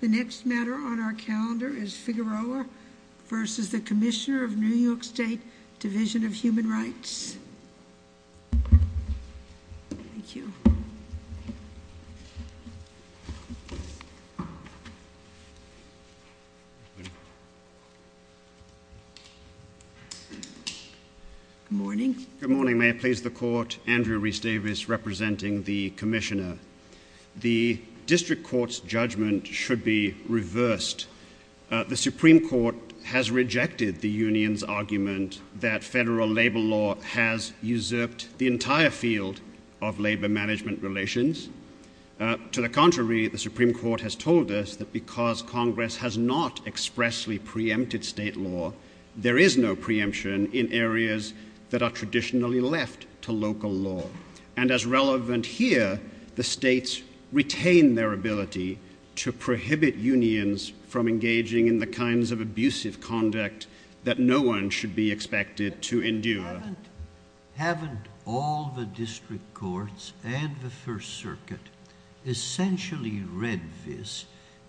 The next matter on our calendar is Figueroa v. the Commissioner of New York State Division of Human Rights. Good morning. Good morning. May I please the court, Andrew Rhys-Davis representing the Commissioner. The district court's judgment should be reversed. The Supreme Court has rejected the union's argument that federal labor law has usurped the entire field of labor management relations. To the contrary, the Supreme Court has told us that because Congress has not expressly preempted state law, there is no preemption in areas that are traditionally left to local law. And as relevant here, the states retain their ability to prohibit unions from engaging in the kinds of abusive conduct that no one should be expected to endure. Haven't all the district courts and the First Circuit essentially read this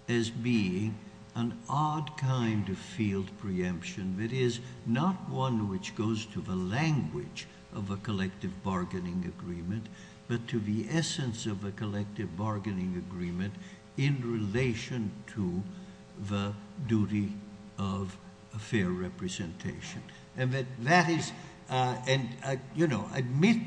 as being an odd kind of field preemption that is not one which goes to the language of a collective bargaining agreement, but to the essence of a collective bargaining agreement in relation to the duty of fair representation? And admit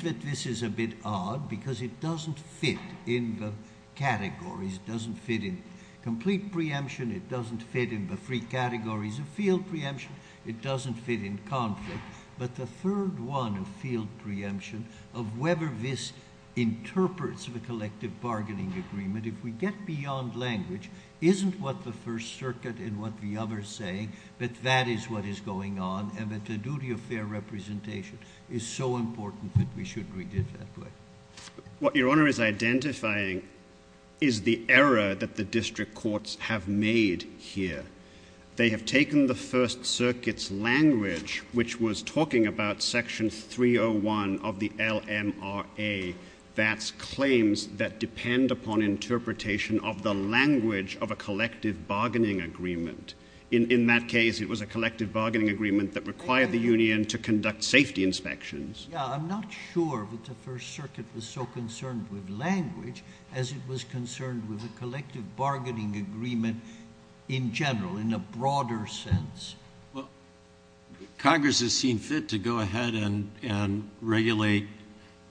that this is a bit odd because it doesn't fit in the categories. It doesn't fit in complete preemption. It doesn't fit in the three categories of field preemption. It doesn't fit in conflict. But the third one of field preemption, of whether this interprets the collective bargaining agreement, if we get beyond language, isn't what the First Circuit and what the others say, that that is what is going on and that the duty of fair representation is so important that we should read it that way. What Your Honor is identifying is the error that the district courts have made here. They have taken the First Circuit's language, which was talking about Section 301 of the LMRA, that's claims that depend upon interpretation of the language of a collective bargaining agreement. In that case, it was a collective bargaining agreement that required the union to conduct safety inspections. Yeah, I'm not sure that the First Circuit was so concerned with language as it was concerned with a collective bargaining agreement in general, in a broader sense. Well, Congress has seen fit to go ahead and regulate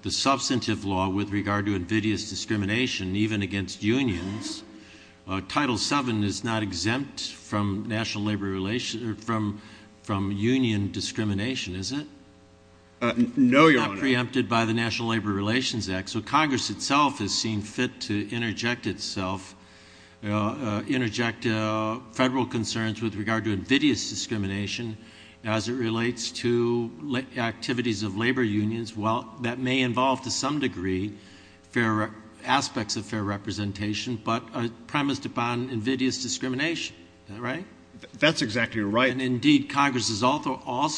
the substantive law with regard to invidious discrimination, even against unions. Title VII is not exempt from union discrimination, is it? No, Your Honor. It's not preempted by the National Labor Relations Act. So Congress itself has seen fit to interject itself, interject federal concerns with regard to invidious discrimination as it relates to activities of labor unions that may involve, to some degree, aspects of fair representation, but premised upon invidious discrimination. Is that right? That's exactly right. Indeed, Congress has also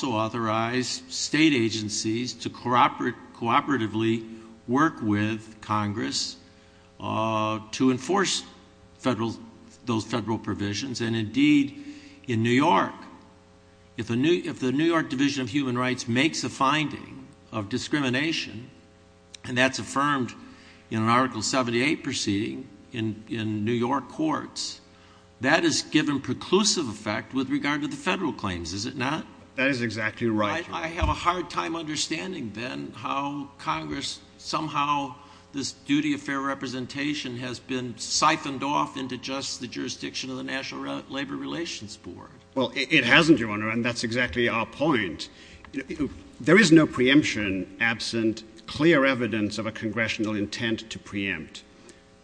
authorized state agencies to cooperatively work with Congress to enforce those federal provisions. Indeed, in New York, if the New York Division of Human Rights makes a finding of discrimination, and that's affirmed in an Article 78 proceeding in New York courts, that is given preclusive effect with regard to the federal claims, is it not? That is exactly right, Your Honor. I have a hard time understanding, then, how Congress, somehow, this duty of fair representation has been siphoned off into just the jurisdiction of the National Labor Relations Board. Well, it hasn't, Your Honor, and that's exactly our point. There is no preemption absent clear evidence of a congressional intent to preempt.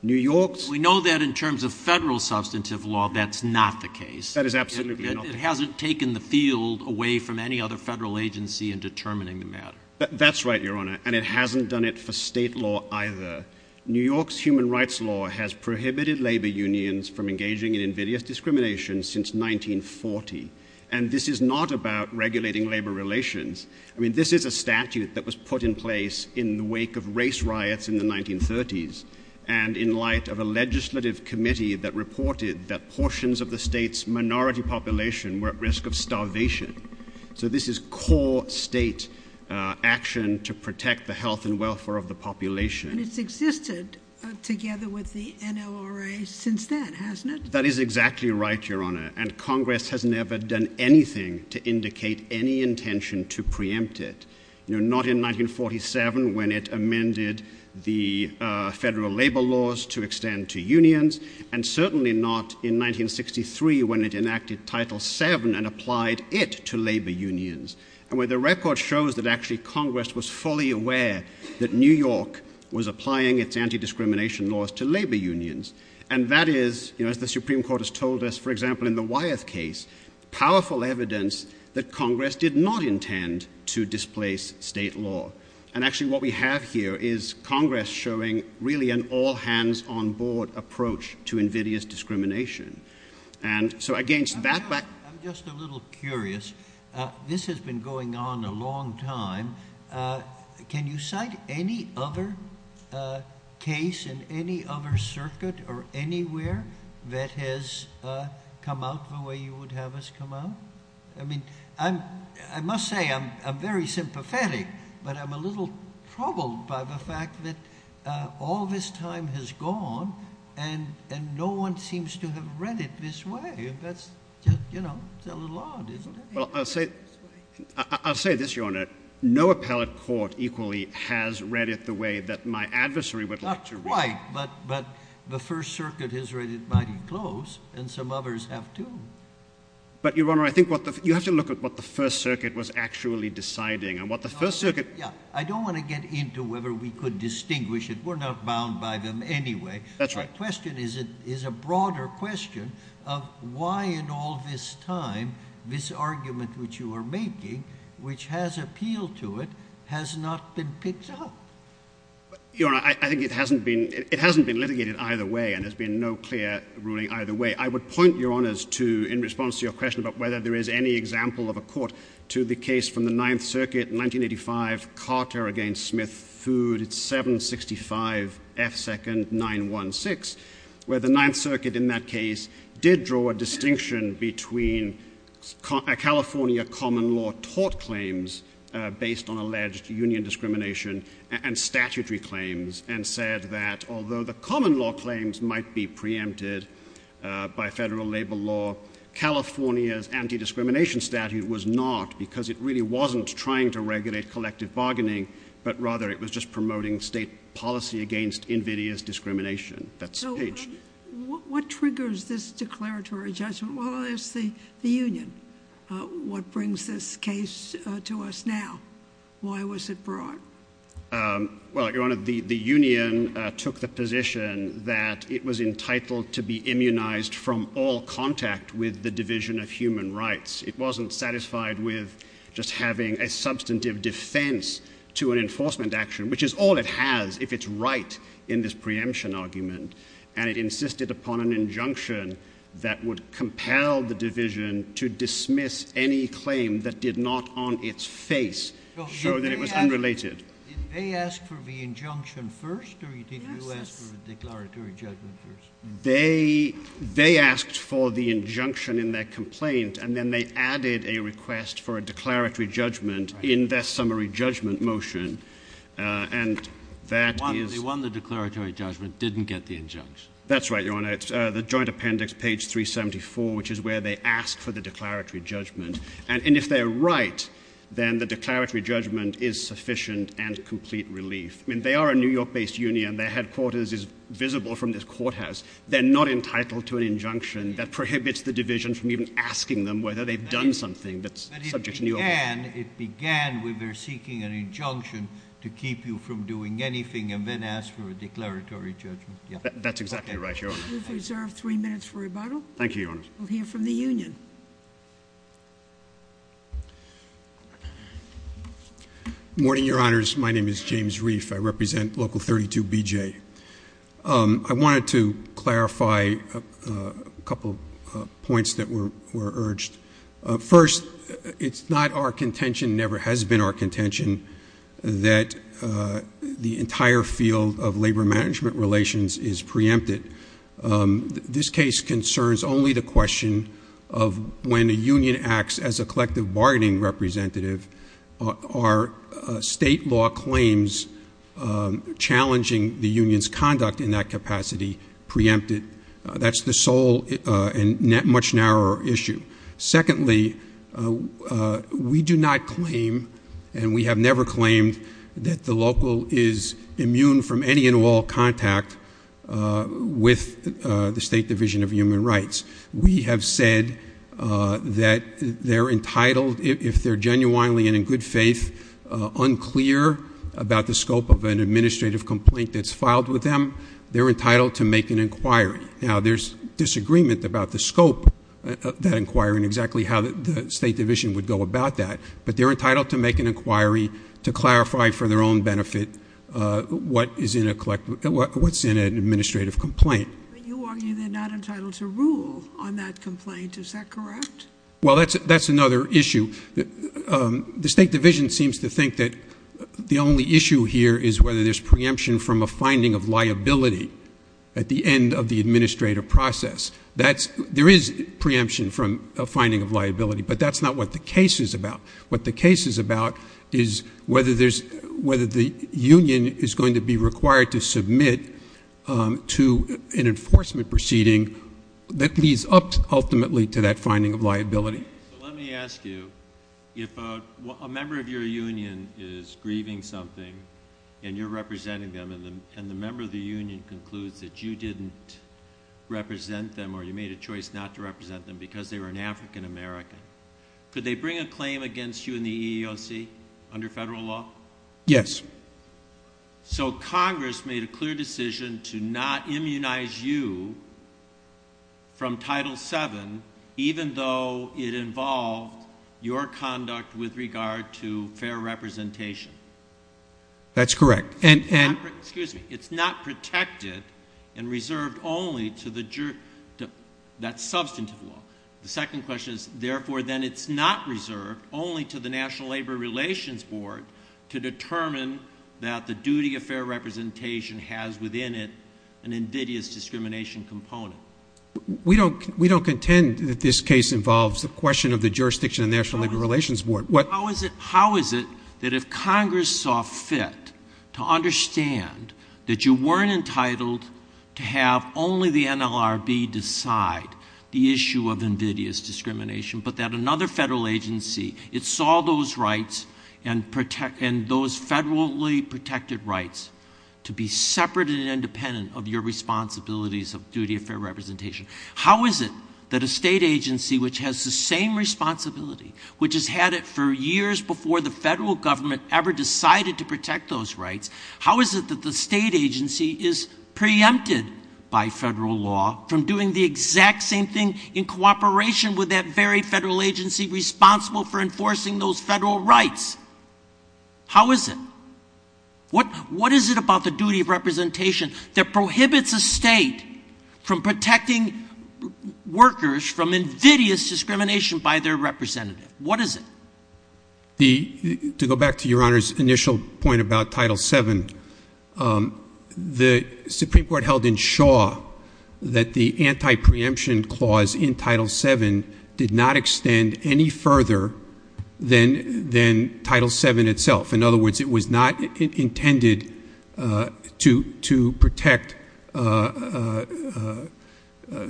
New York's... We know that in terms of federal substantive law, that's not the case. That is absolutely not the case. It hasn't taken the field away from any other federal agency in determining the matter. That's right, Your Honor, and it hasn't done it for state law either. New York's human rights law has prohibited labor unions from engaging in invidious discrimination since 1940, and this is not about regulating labor relations. I mean, this is a statute that was put in place in the wake of race riots in the 1930s, and in light of a legislative committee that reported that portions of the state's minority population were at risk of starvation. So this is core state action to protect the health and welfare of the population. And it's existed together with the NLRA since then, hasn't it? That is exactly right, Your Honor, and Congress has never done anything to indicate any intention to preempt it. Not in 1947 when it amended the federal labor laws to extend to unions, and certainly not in 1963 when it enacted Title VII and applied it to labor unions. And where the record shows that actually Congress was fully aware that New York was applying its anti-discrimination laws to labor unions, and that is, you know, as the Supreme Court has told us, for example, in the Wyeth case, powerful evidence that Congress did not intend to displace state law. And actually what we have here is Congress showing really an all-hands-on-board approach to invidious discrimination. And so against that back... I'm just a little curious. This has been going on a long time. Can you cite any other case in any other circuit or anywhere that has come out the way you would have us come out? I mean, I must say I'm very sympathetic, but I'm a little troubled by the fact that all this time has gone and no one seems to have read it this way. That's just, you know, a little odd, isn't it? Well, I'll say this, Your Honor. No appellate court equally has read it the way that my adversary would like to read it. Not quite, but the First Circuit has read it mighty close, and some others have too. But, Your Honor, I think you have to look at what the First Circuit was actually deciding. Yeah, I don't want to get into whether we could distinguish it. We're not bound by them anyway. That's right. The question is a broader question of why in all this time this argument which you are making, which has appealed to it, has not been picked up. Your Honor, I think it hasn't been litigated either way, and there's been no clear ruling either way. I would point, Your Honors, in response to your question about whether there is any example of a court to the case from the Ninth Circuit in 1985, Carter v. Smith, Food, 765 F. 2nd 916, where the Ninth Circuit in that case did draw a distinction between California common law tort claims based on alleged union discrimination and statutory claims and said that although the common law claims might be preempted by federal labor law, California's anti-discrimination statute was not because it really wasn't trying to regulate collective bargaining, but rather it was just promoting state policy against invidious discrimination. That's the page. So what triggers this declaratory judgment? Well, it's the union. What brings this case to us now? Why was it brought? Well, Your Honor, the union took the position that it was entitled to be immunized from all contact with the Division of Human Rights. It wasn't satisfied with just having a substantive defense to an enforcement action, which is all it has if it's right in this preemption argument, and it insisted upon an injunction that would compel the division to dismiss any claim that did not on its face show that it was unrelated. Did they ask for the injunction first, or did you ask for the declaratory judgment first? They asked for the injunction in their complaint, and then they added a request for a declaratory judgment in their summary judgment motion, and that is— They won the declaratory judgment, didn't get the injunction. That's right, Your Honor. It's the Joint Appendix, page 374, which is where they ask for the declaratory judgment. And if they're right, then the declaratory judgment is sufficient and complete relief. I mean, they are a New York-based union. Their headquarters is visible from this courthouse. They're not entitled to an injunction that prohibits the division from even asking them whether they've done something that's subject to New York law. But it began when they're seeking an injunction to keep you from doing anything and then ask for a declaratory judgment. That's exactly right, Your Honor. We've reserved three minutes for rebuttal. Thank you, Your Honor. We'll hear from the union. Good morning, Your Honors. My name is James Reif. I represent Local 32BJ. I wanted to clarify a couple of points that were urged. First, it's not our contention, never has been our contention, that the entire field of labor-management relations is preempted. This case concerns only the question of when a union acts as a collective bargaining representative, are state law claims challenging the union's conduct in that capacity preempted? That's the sole and much narrower issue. Secondly, we do not claim, and we have never claimed, that the local is immune from any and all contact with the State Division of Human Rights. We have said that they're entitled, if they're genuinely and in good faith, unclear about the scope of an administrative complaint that's filed with them, they're entitled to make an inquiry. Now, there's disagreement about the scope of that inquiry and exactly how the State Division would go about that, but they're entitled to make an inquiry to clarify for their own benefit what's in an administrative complaint. But you argue they're not entitled to rule on that complaint. Is that correct? Well, that's another issue. The State Division seems to think that the only issue here is whether there's preemption from a finding of liability at the end of the administrative process. There is preemption from a finding of liability, but that's not what the case is about. What the case is about is whether the union is going to be required to submit to an enforcement proceeding Let me ask you, if a member of your union is grieving something and you're representing them and the member of the union concludes that you didn't represent them or you made a choice not to represent them because they were an African American, could they bring a claim against you in the EEOC under federal law? Yes. So Congress made a clear decision to not immunize you from Title VII even though it involved your conduct with regard to fair representation. That's correct. Excuse me. It's not protected and reserved only to the jury. That's substantive law. The second question is, therefore, then it's not reserved only to the National Labor Relations Board to determine that the duty of fair representation has within it an invidious discrimination component. We don't contend that this case involves the question of the jurisdiction of the National Labor Relations Board. How is it that if Congress saw fit to understand that you weren't entitled to have only the NLRB decide the issue of invidious discrimination, but that another federal agency, it saw those rights and those federally protected rights to be separate and independent of your responsibilities of duty of fair representation, how is it that a state agency which has the same responsibility, which has had it for years before the federal government ever decided to protect those rights, how is it that the state agency is preempted by federal law from doing the exact same thing in cooperation with that very federal agency responsible for enforcing those federal rights? How is it? What is it about the duty of representation that prohibits a state from protecting workers from invidious discrimination by their representative? What is it? To go back to Your Honor's initial point about Title VII, the Supreme Court held in Shaw that the anti-preemption clause in Title VII did not extend any further than Title VII itself. In other words, it was not intended to protect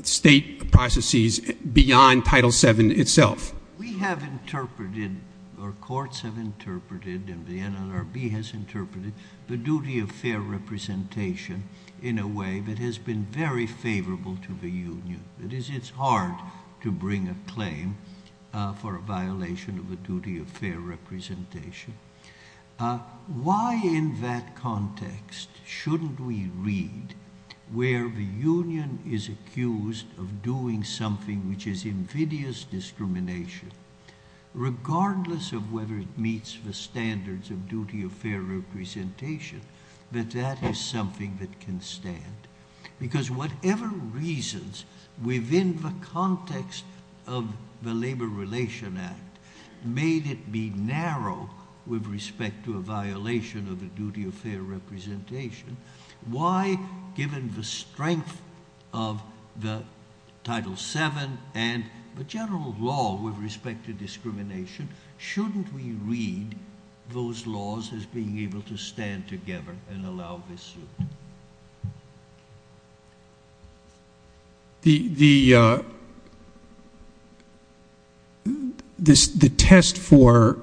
state processes beyond Title VII itself. We have interpreted or courts have interpreted and the NLRB has interpreted the duty of fair representation in a way that has been very favorable to the Union. It is hard to bring a claim for a violation of the duty of fair representation. Why in that context shouldn't we read where the Union is accused of doing something which is invidious discrimination, regardless of whether it meets the standards of duty of fair representation, that that is something that can stand? Because whatever reasons within the context of the Labor Relations Act made it be narrow with respect to a violation of the duty of fair representation, why, given the strength of the Title VII and the general law with respect to discrimination, shouldn't we read those laws as being able to stand together and allow this suit? The test for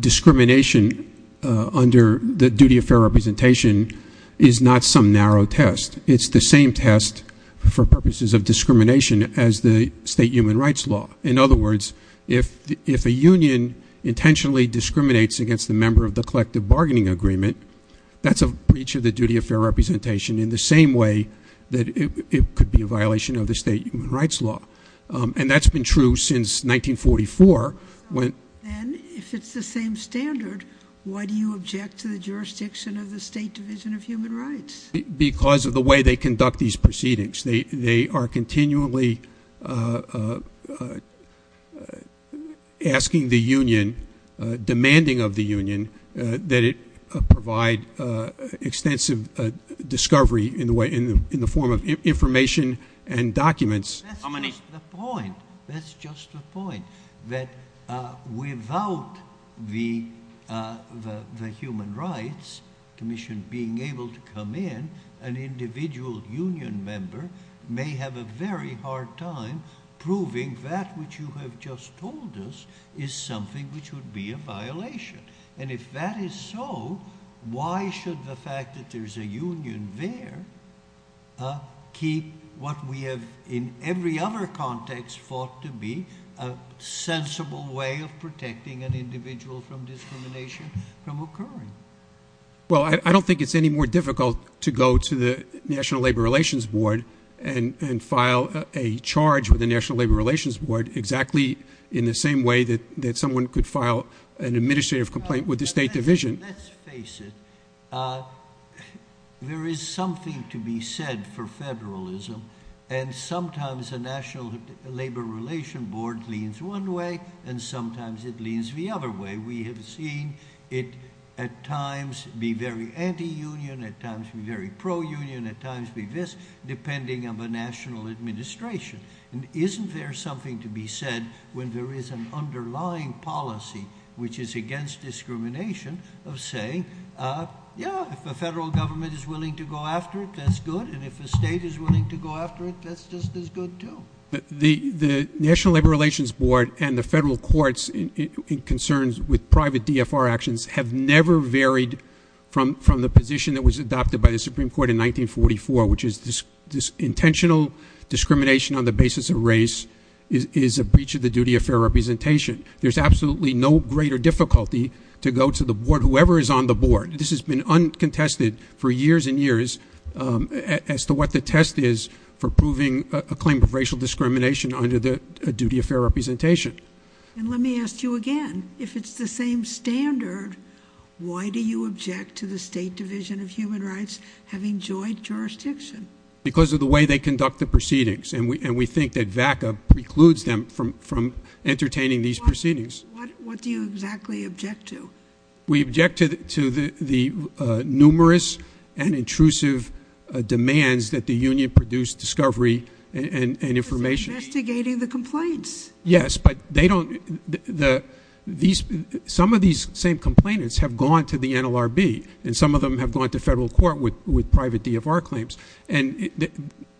discrimination under the duty of fair representation is not some narrow test. It's the same test for purposes of discrimination as the state human rights law. In other words, if a union intentionally discriminates against a member of the collective bargaining agreement, that's a breach of the duty of fair representation in the same way that it could be a violation of the state human rights law. And that's been true since 1944. Then, if it's the same standard, why do you object to the jurisdiction of the State Division of Human Rights? Because of the way they conduct these proceedings. They are continually asking the union, demanding of the union that it provide extensive discovery in the form of information and documents. That's just the point. That's just the point. That without the Human Rights Commission being able to come in, an individual union member may have a very hard time proving that which you have just told us is something which would be a violation. And if that is so, why should the fact that there's a union there keep what we have in every other context thought to be a sensible way of protecting an individual from discrimination from occurring? Well, I don't think it's any more difficult to go to the National Labor Relations Board and file a charge with the National Labor Relations Board exactly in the same way that someone could file an administrative complaint with the State Division. Let's face it. There is something to be said for federalism. And sometimes the National Labor Relations Board leans one way, and sometimes it leans the other way. We have seen it at times be very anti-union, at times be very pro-union, at times be this, depending on the national administration. And isn't there something to be said when there is an underlying policy which is against discrimination of saying, yeah, if the federal government is willing to go after it, that's good, and if the state is willing to go after it, that's just as good too. The National Labor Relations Board and the federal courts in concerns with private DFR actions have never varied from the position that was adopted by the Supreme Court in 1944, which is this intentional discrimination on the basis of race is a breach of the duty of fair representation. There's absolutely no greater difficulty to go to the board, whoever is on the board. This has been uncontested for years and years as to what the test is for proving a claim of racial discrimination under the duty of fair representation. And let me ask you again, if it's the same standard, why do you object to the State Division of Human Rights having joint jurisdiction? Because of the way they conduct the proceedings, and we think that VACA precludes them from entertaining these proceedings. What do you exactly object to? We object to the numerous and intrusive demands that the union produced discovery and information. Because they're investigating the complaints. Yes, but they don't – some of these same complainants have gone to the NLRB, and some of them have gone to federal court with private DFR claims. And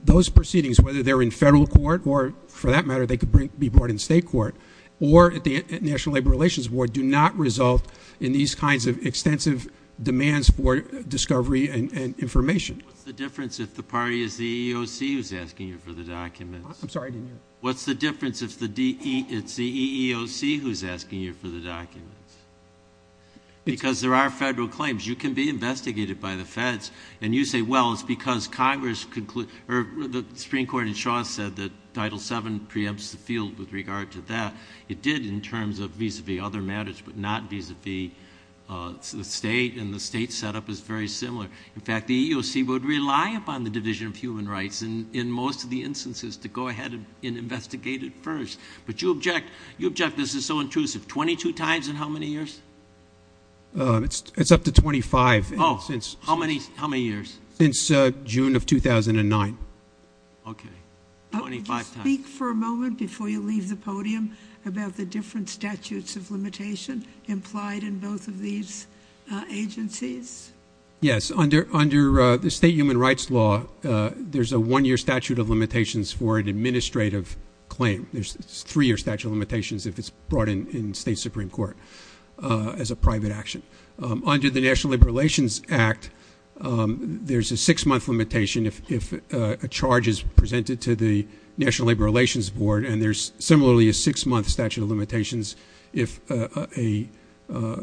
those proceedings, whether they're in federal court or, for that matter, they could be brought in state court, or at the National Labor Relations Board, do not result in these kinds of extensive demands for discovery and information. What's the difference if the party is the EEOC who's asking you for the documents? I'm sorry, I didn't hear you. What's the difference if it's the EEOC who's asking you for the documents? Because there are federal claims. You can be investigated by the feds, and you say, well, it's because Congress – or the Supreme Court in Shaw said that Title VII preempts the field with regard to that. It did in terms of vis-a-vis other matters, but not vis-a-vis the state, and the state setup is very similar. In fact, the EEOC would rely upon the Division of Human Rights in most of the instances to go ahead and investigate it first. But you object this is so intrusive 22 times in how many years? It's up to 25. Oh, how many years? Since June of 2009. Okay, 25 times. Can you speak for a moment before you leave the podium about the different statutes of limitation implied in both of these agencies? Yes. Under the state human rights law, there's a one-year statute of limitations for an administrative claim. There's three-year statute of limitations if it's brought in state Supreme Court as a private action. Under the National Labor Relations Act, there's a six-month limitation if a charge is presented to the National Labor Relations Board, and there's similarly a six-month statute of limitations if a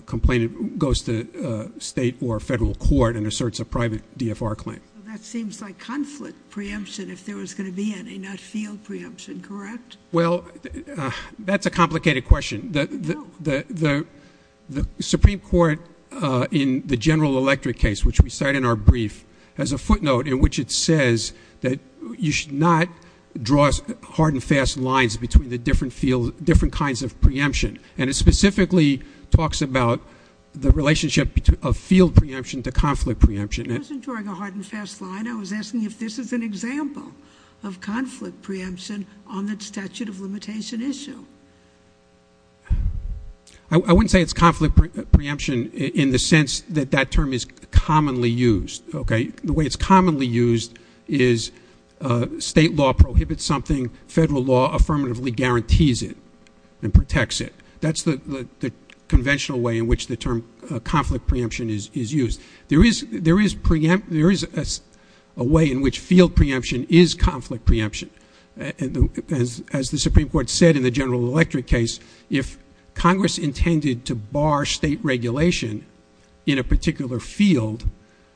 complainant goes to state or federal court and asserts a private DFR claim. That seems like conflict preemption if there was going to be any, not field preemption, correct? Well, that's a complicated question. The Supreme Court in the General Electric case, which we cite in our brief, has a footnote in which it says that you should not draw hard and fast lines between the different kinds of preemption, and it specifically talks about the relationship of field preemption to conflict preemption. I wasn't drawing a hard and fast line. I was asking if this is an example of conflict preemption on the statute of limitation issue. I wouldn't say it's conflict preemption in the sense that that term is commonly used, okay? The way it's commonly used is state law prohibits something, federal law affirmatively guarantees it and protects it. That's the conventional way in which the term conflict preemption is used. There is a way in which field preemption is conflict preemption. As the Supreme Court said in the General Electric case, if Congress intended to bar state regulation in a particular field,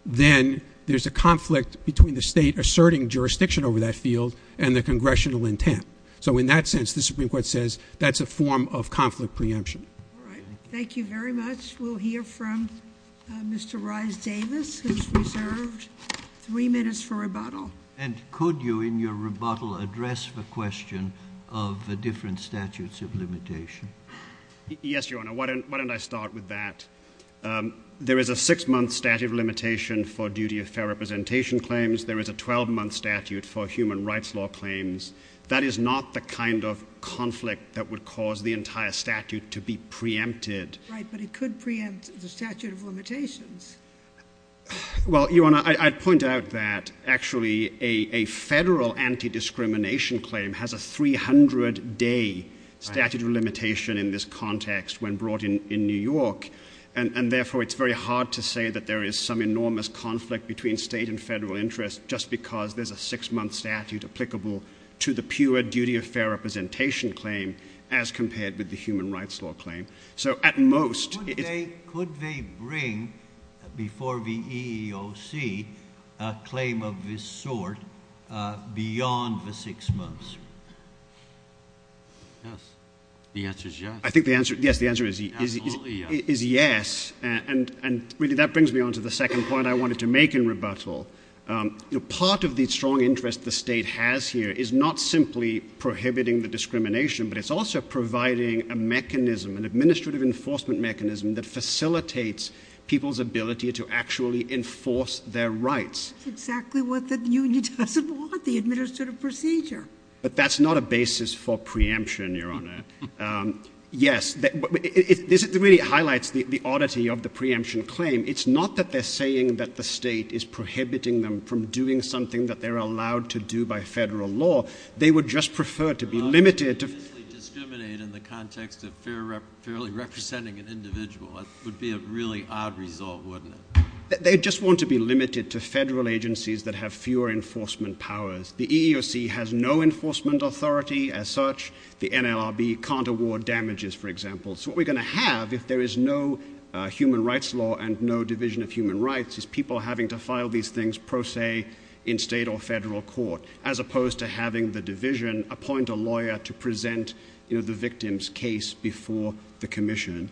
then there's a conflict between the state asserting jurisdiction over that field and the congressional intent. So in that sense, the Supreme Court says that's a form of conflict preemption. All right. Thank you very much. We'll hear from Mr. Reisz-Davis, who's reserved three minutes for rebuttal. And could you in your rebuttal address the question of the different statutes of limitation? Yes, Your Honor. Why don't I start with that? There is a six-month statute of limitation for duty of fair representation claims. There is a 12-month statute for human rights law claims. That is not the kind of conflict that would cause the entire statute to be preempted. Right, but it could preempt the statute of limitations. Well, Your Honor, I'd point out that actually a federal anti-discrimination claim has a 300-day statute of limitation in this context when brought in New York, and therefore it's very hard to say that there is some enormous conflict between state and federal interest just because there's a six-month statute applicable to the pure duty of fair representation claim as compared with the human rights law claim. Could they bring before the EEOC a claim of this sort beyond the six months? Yes, the answer is yes. I think the answer is yes, and really that brings me on to the second point I wanted to make in rebuttal. Part of the strong interest the state has here is not simply prohibiting the discrimination, but it's also providing a mechanism, an administrative enforcement mechanism, that facilitates people's ability to actually enforce their rights. That's exactly what the union doesn't want, the administrative procedure. But that's not a basis for preemption, Your Honor. Yes, this really highlights the oddity of the preemption claim. It's not that they're saying that the state is prohibiting them from doing something that they're allowed to do by federal law. They would just prefer to be limited to Well, if you're going to discriminate in the context of fairly representing an individual, that would be a really odd result, wouldn't it? They just want to be limited to federal agencies that have fewer enforcement powers. The EEOC has no enforcement authority as such. The NLRB can't award damages, for example. So what we're going to have if there is no human rights law and no division of human rights is people having to file these things pro se in state or federal court as opposed to having the division appoint a lawyer to present the victim's case before the commission.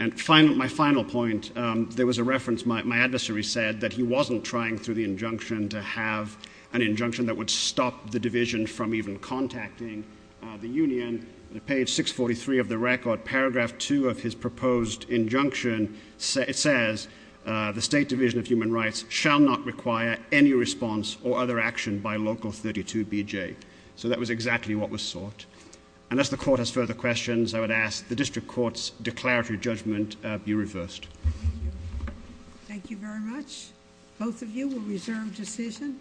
And my final point, there was a reference. My adversary said that he wasn't trying, through the injunction, to have an injunction that would stop the division from even contacting the union. On page 643 of the record, paragraph 2 of his proposed injunction, it says the State Division of Human Rights shall not require any response or other action by Local 32BJ. So that was exactly what was sought. Unless the court has further questions, I would ask the district court's declaratory judgment be reversed. Thank you very much. Both of you will reserve decision.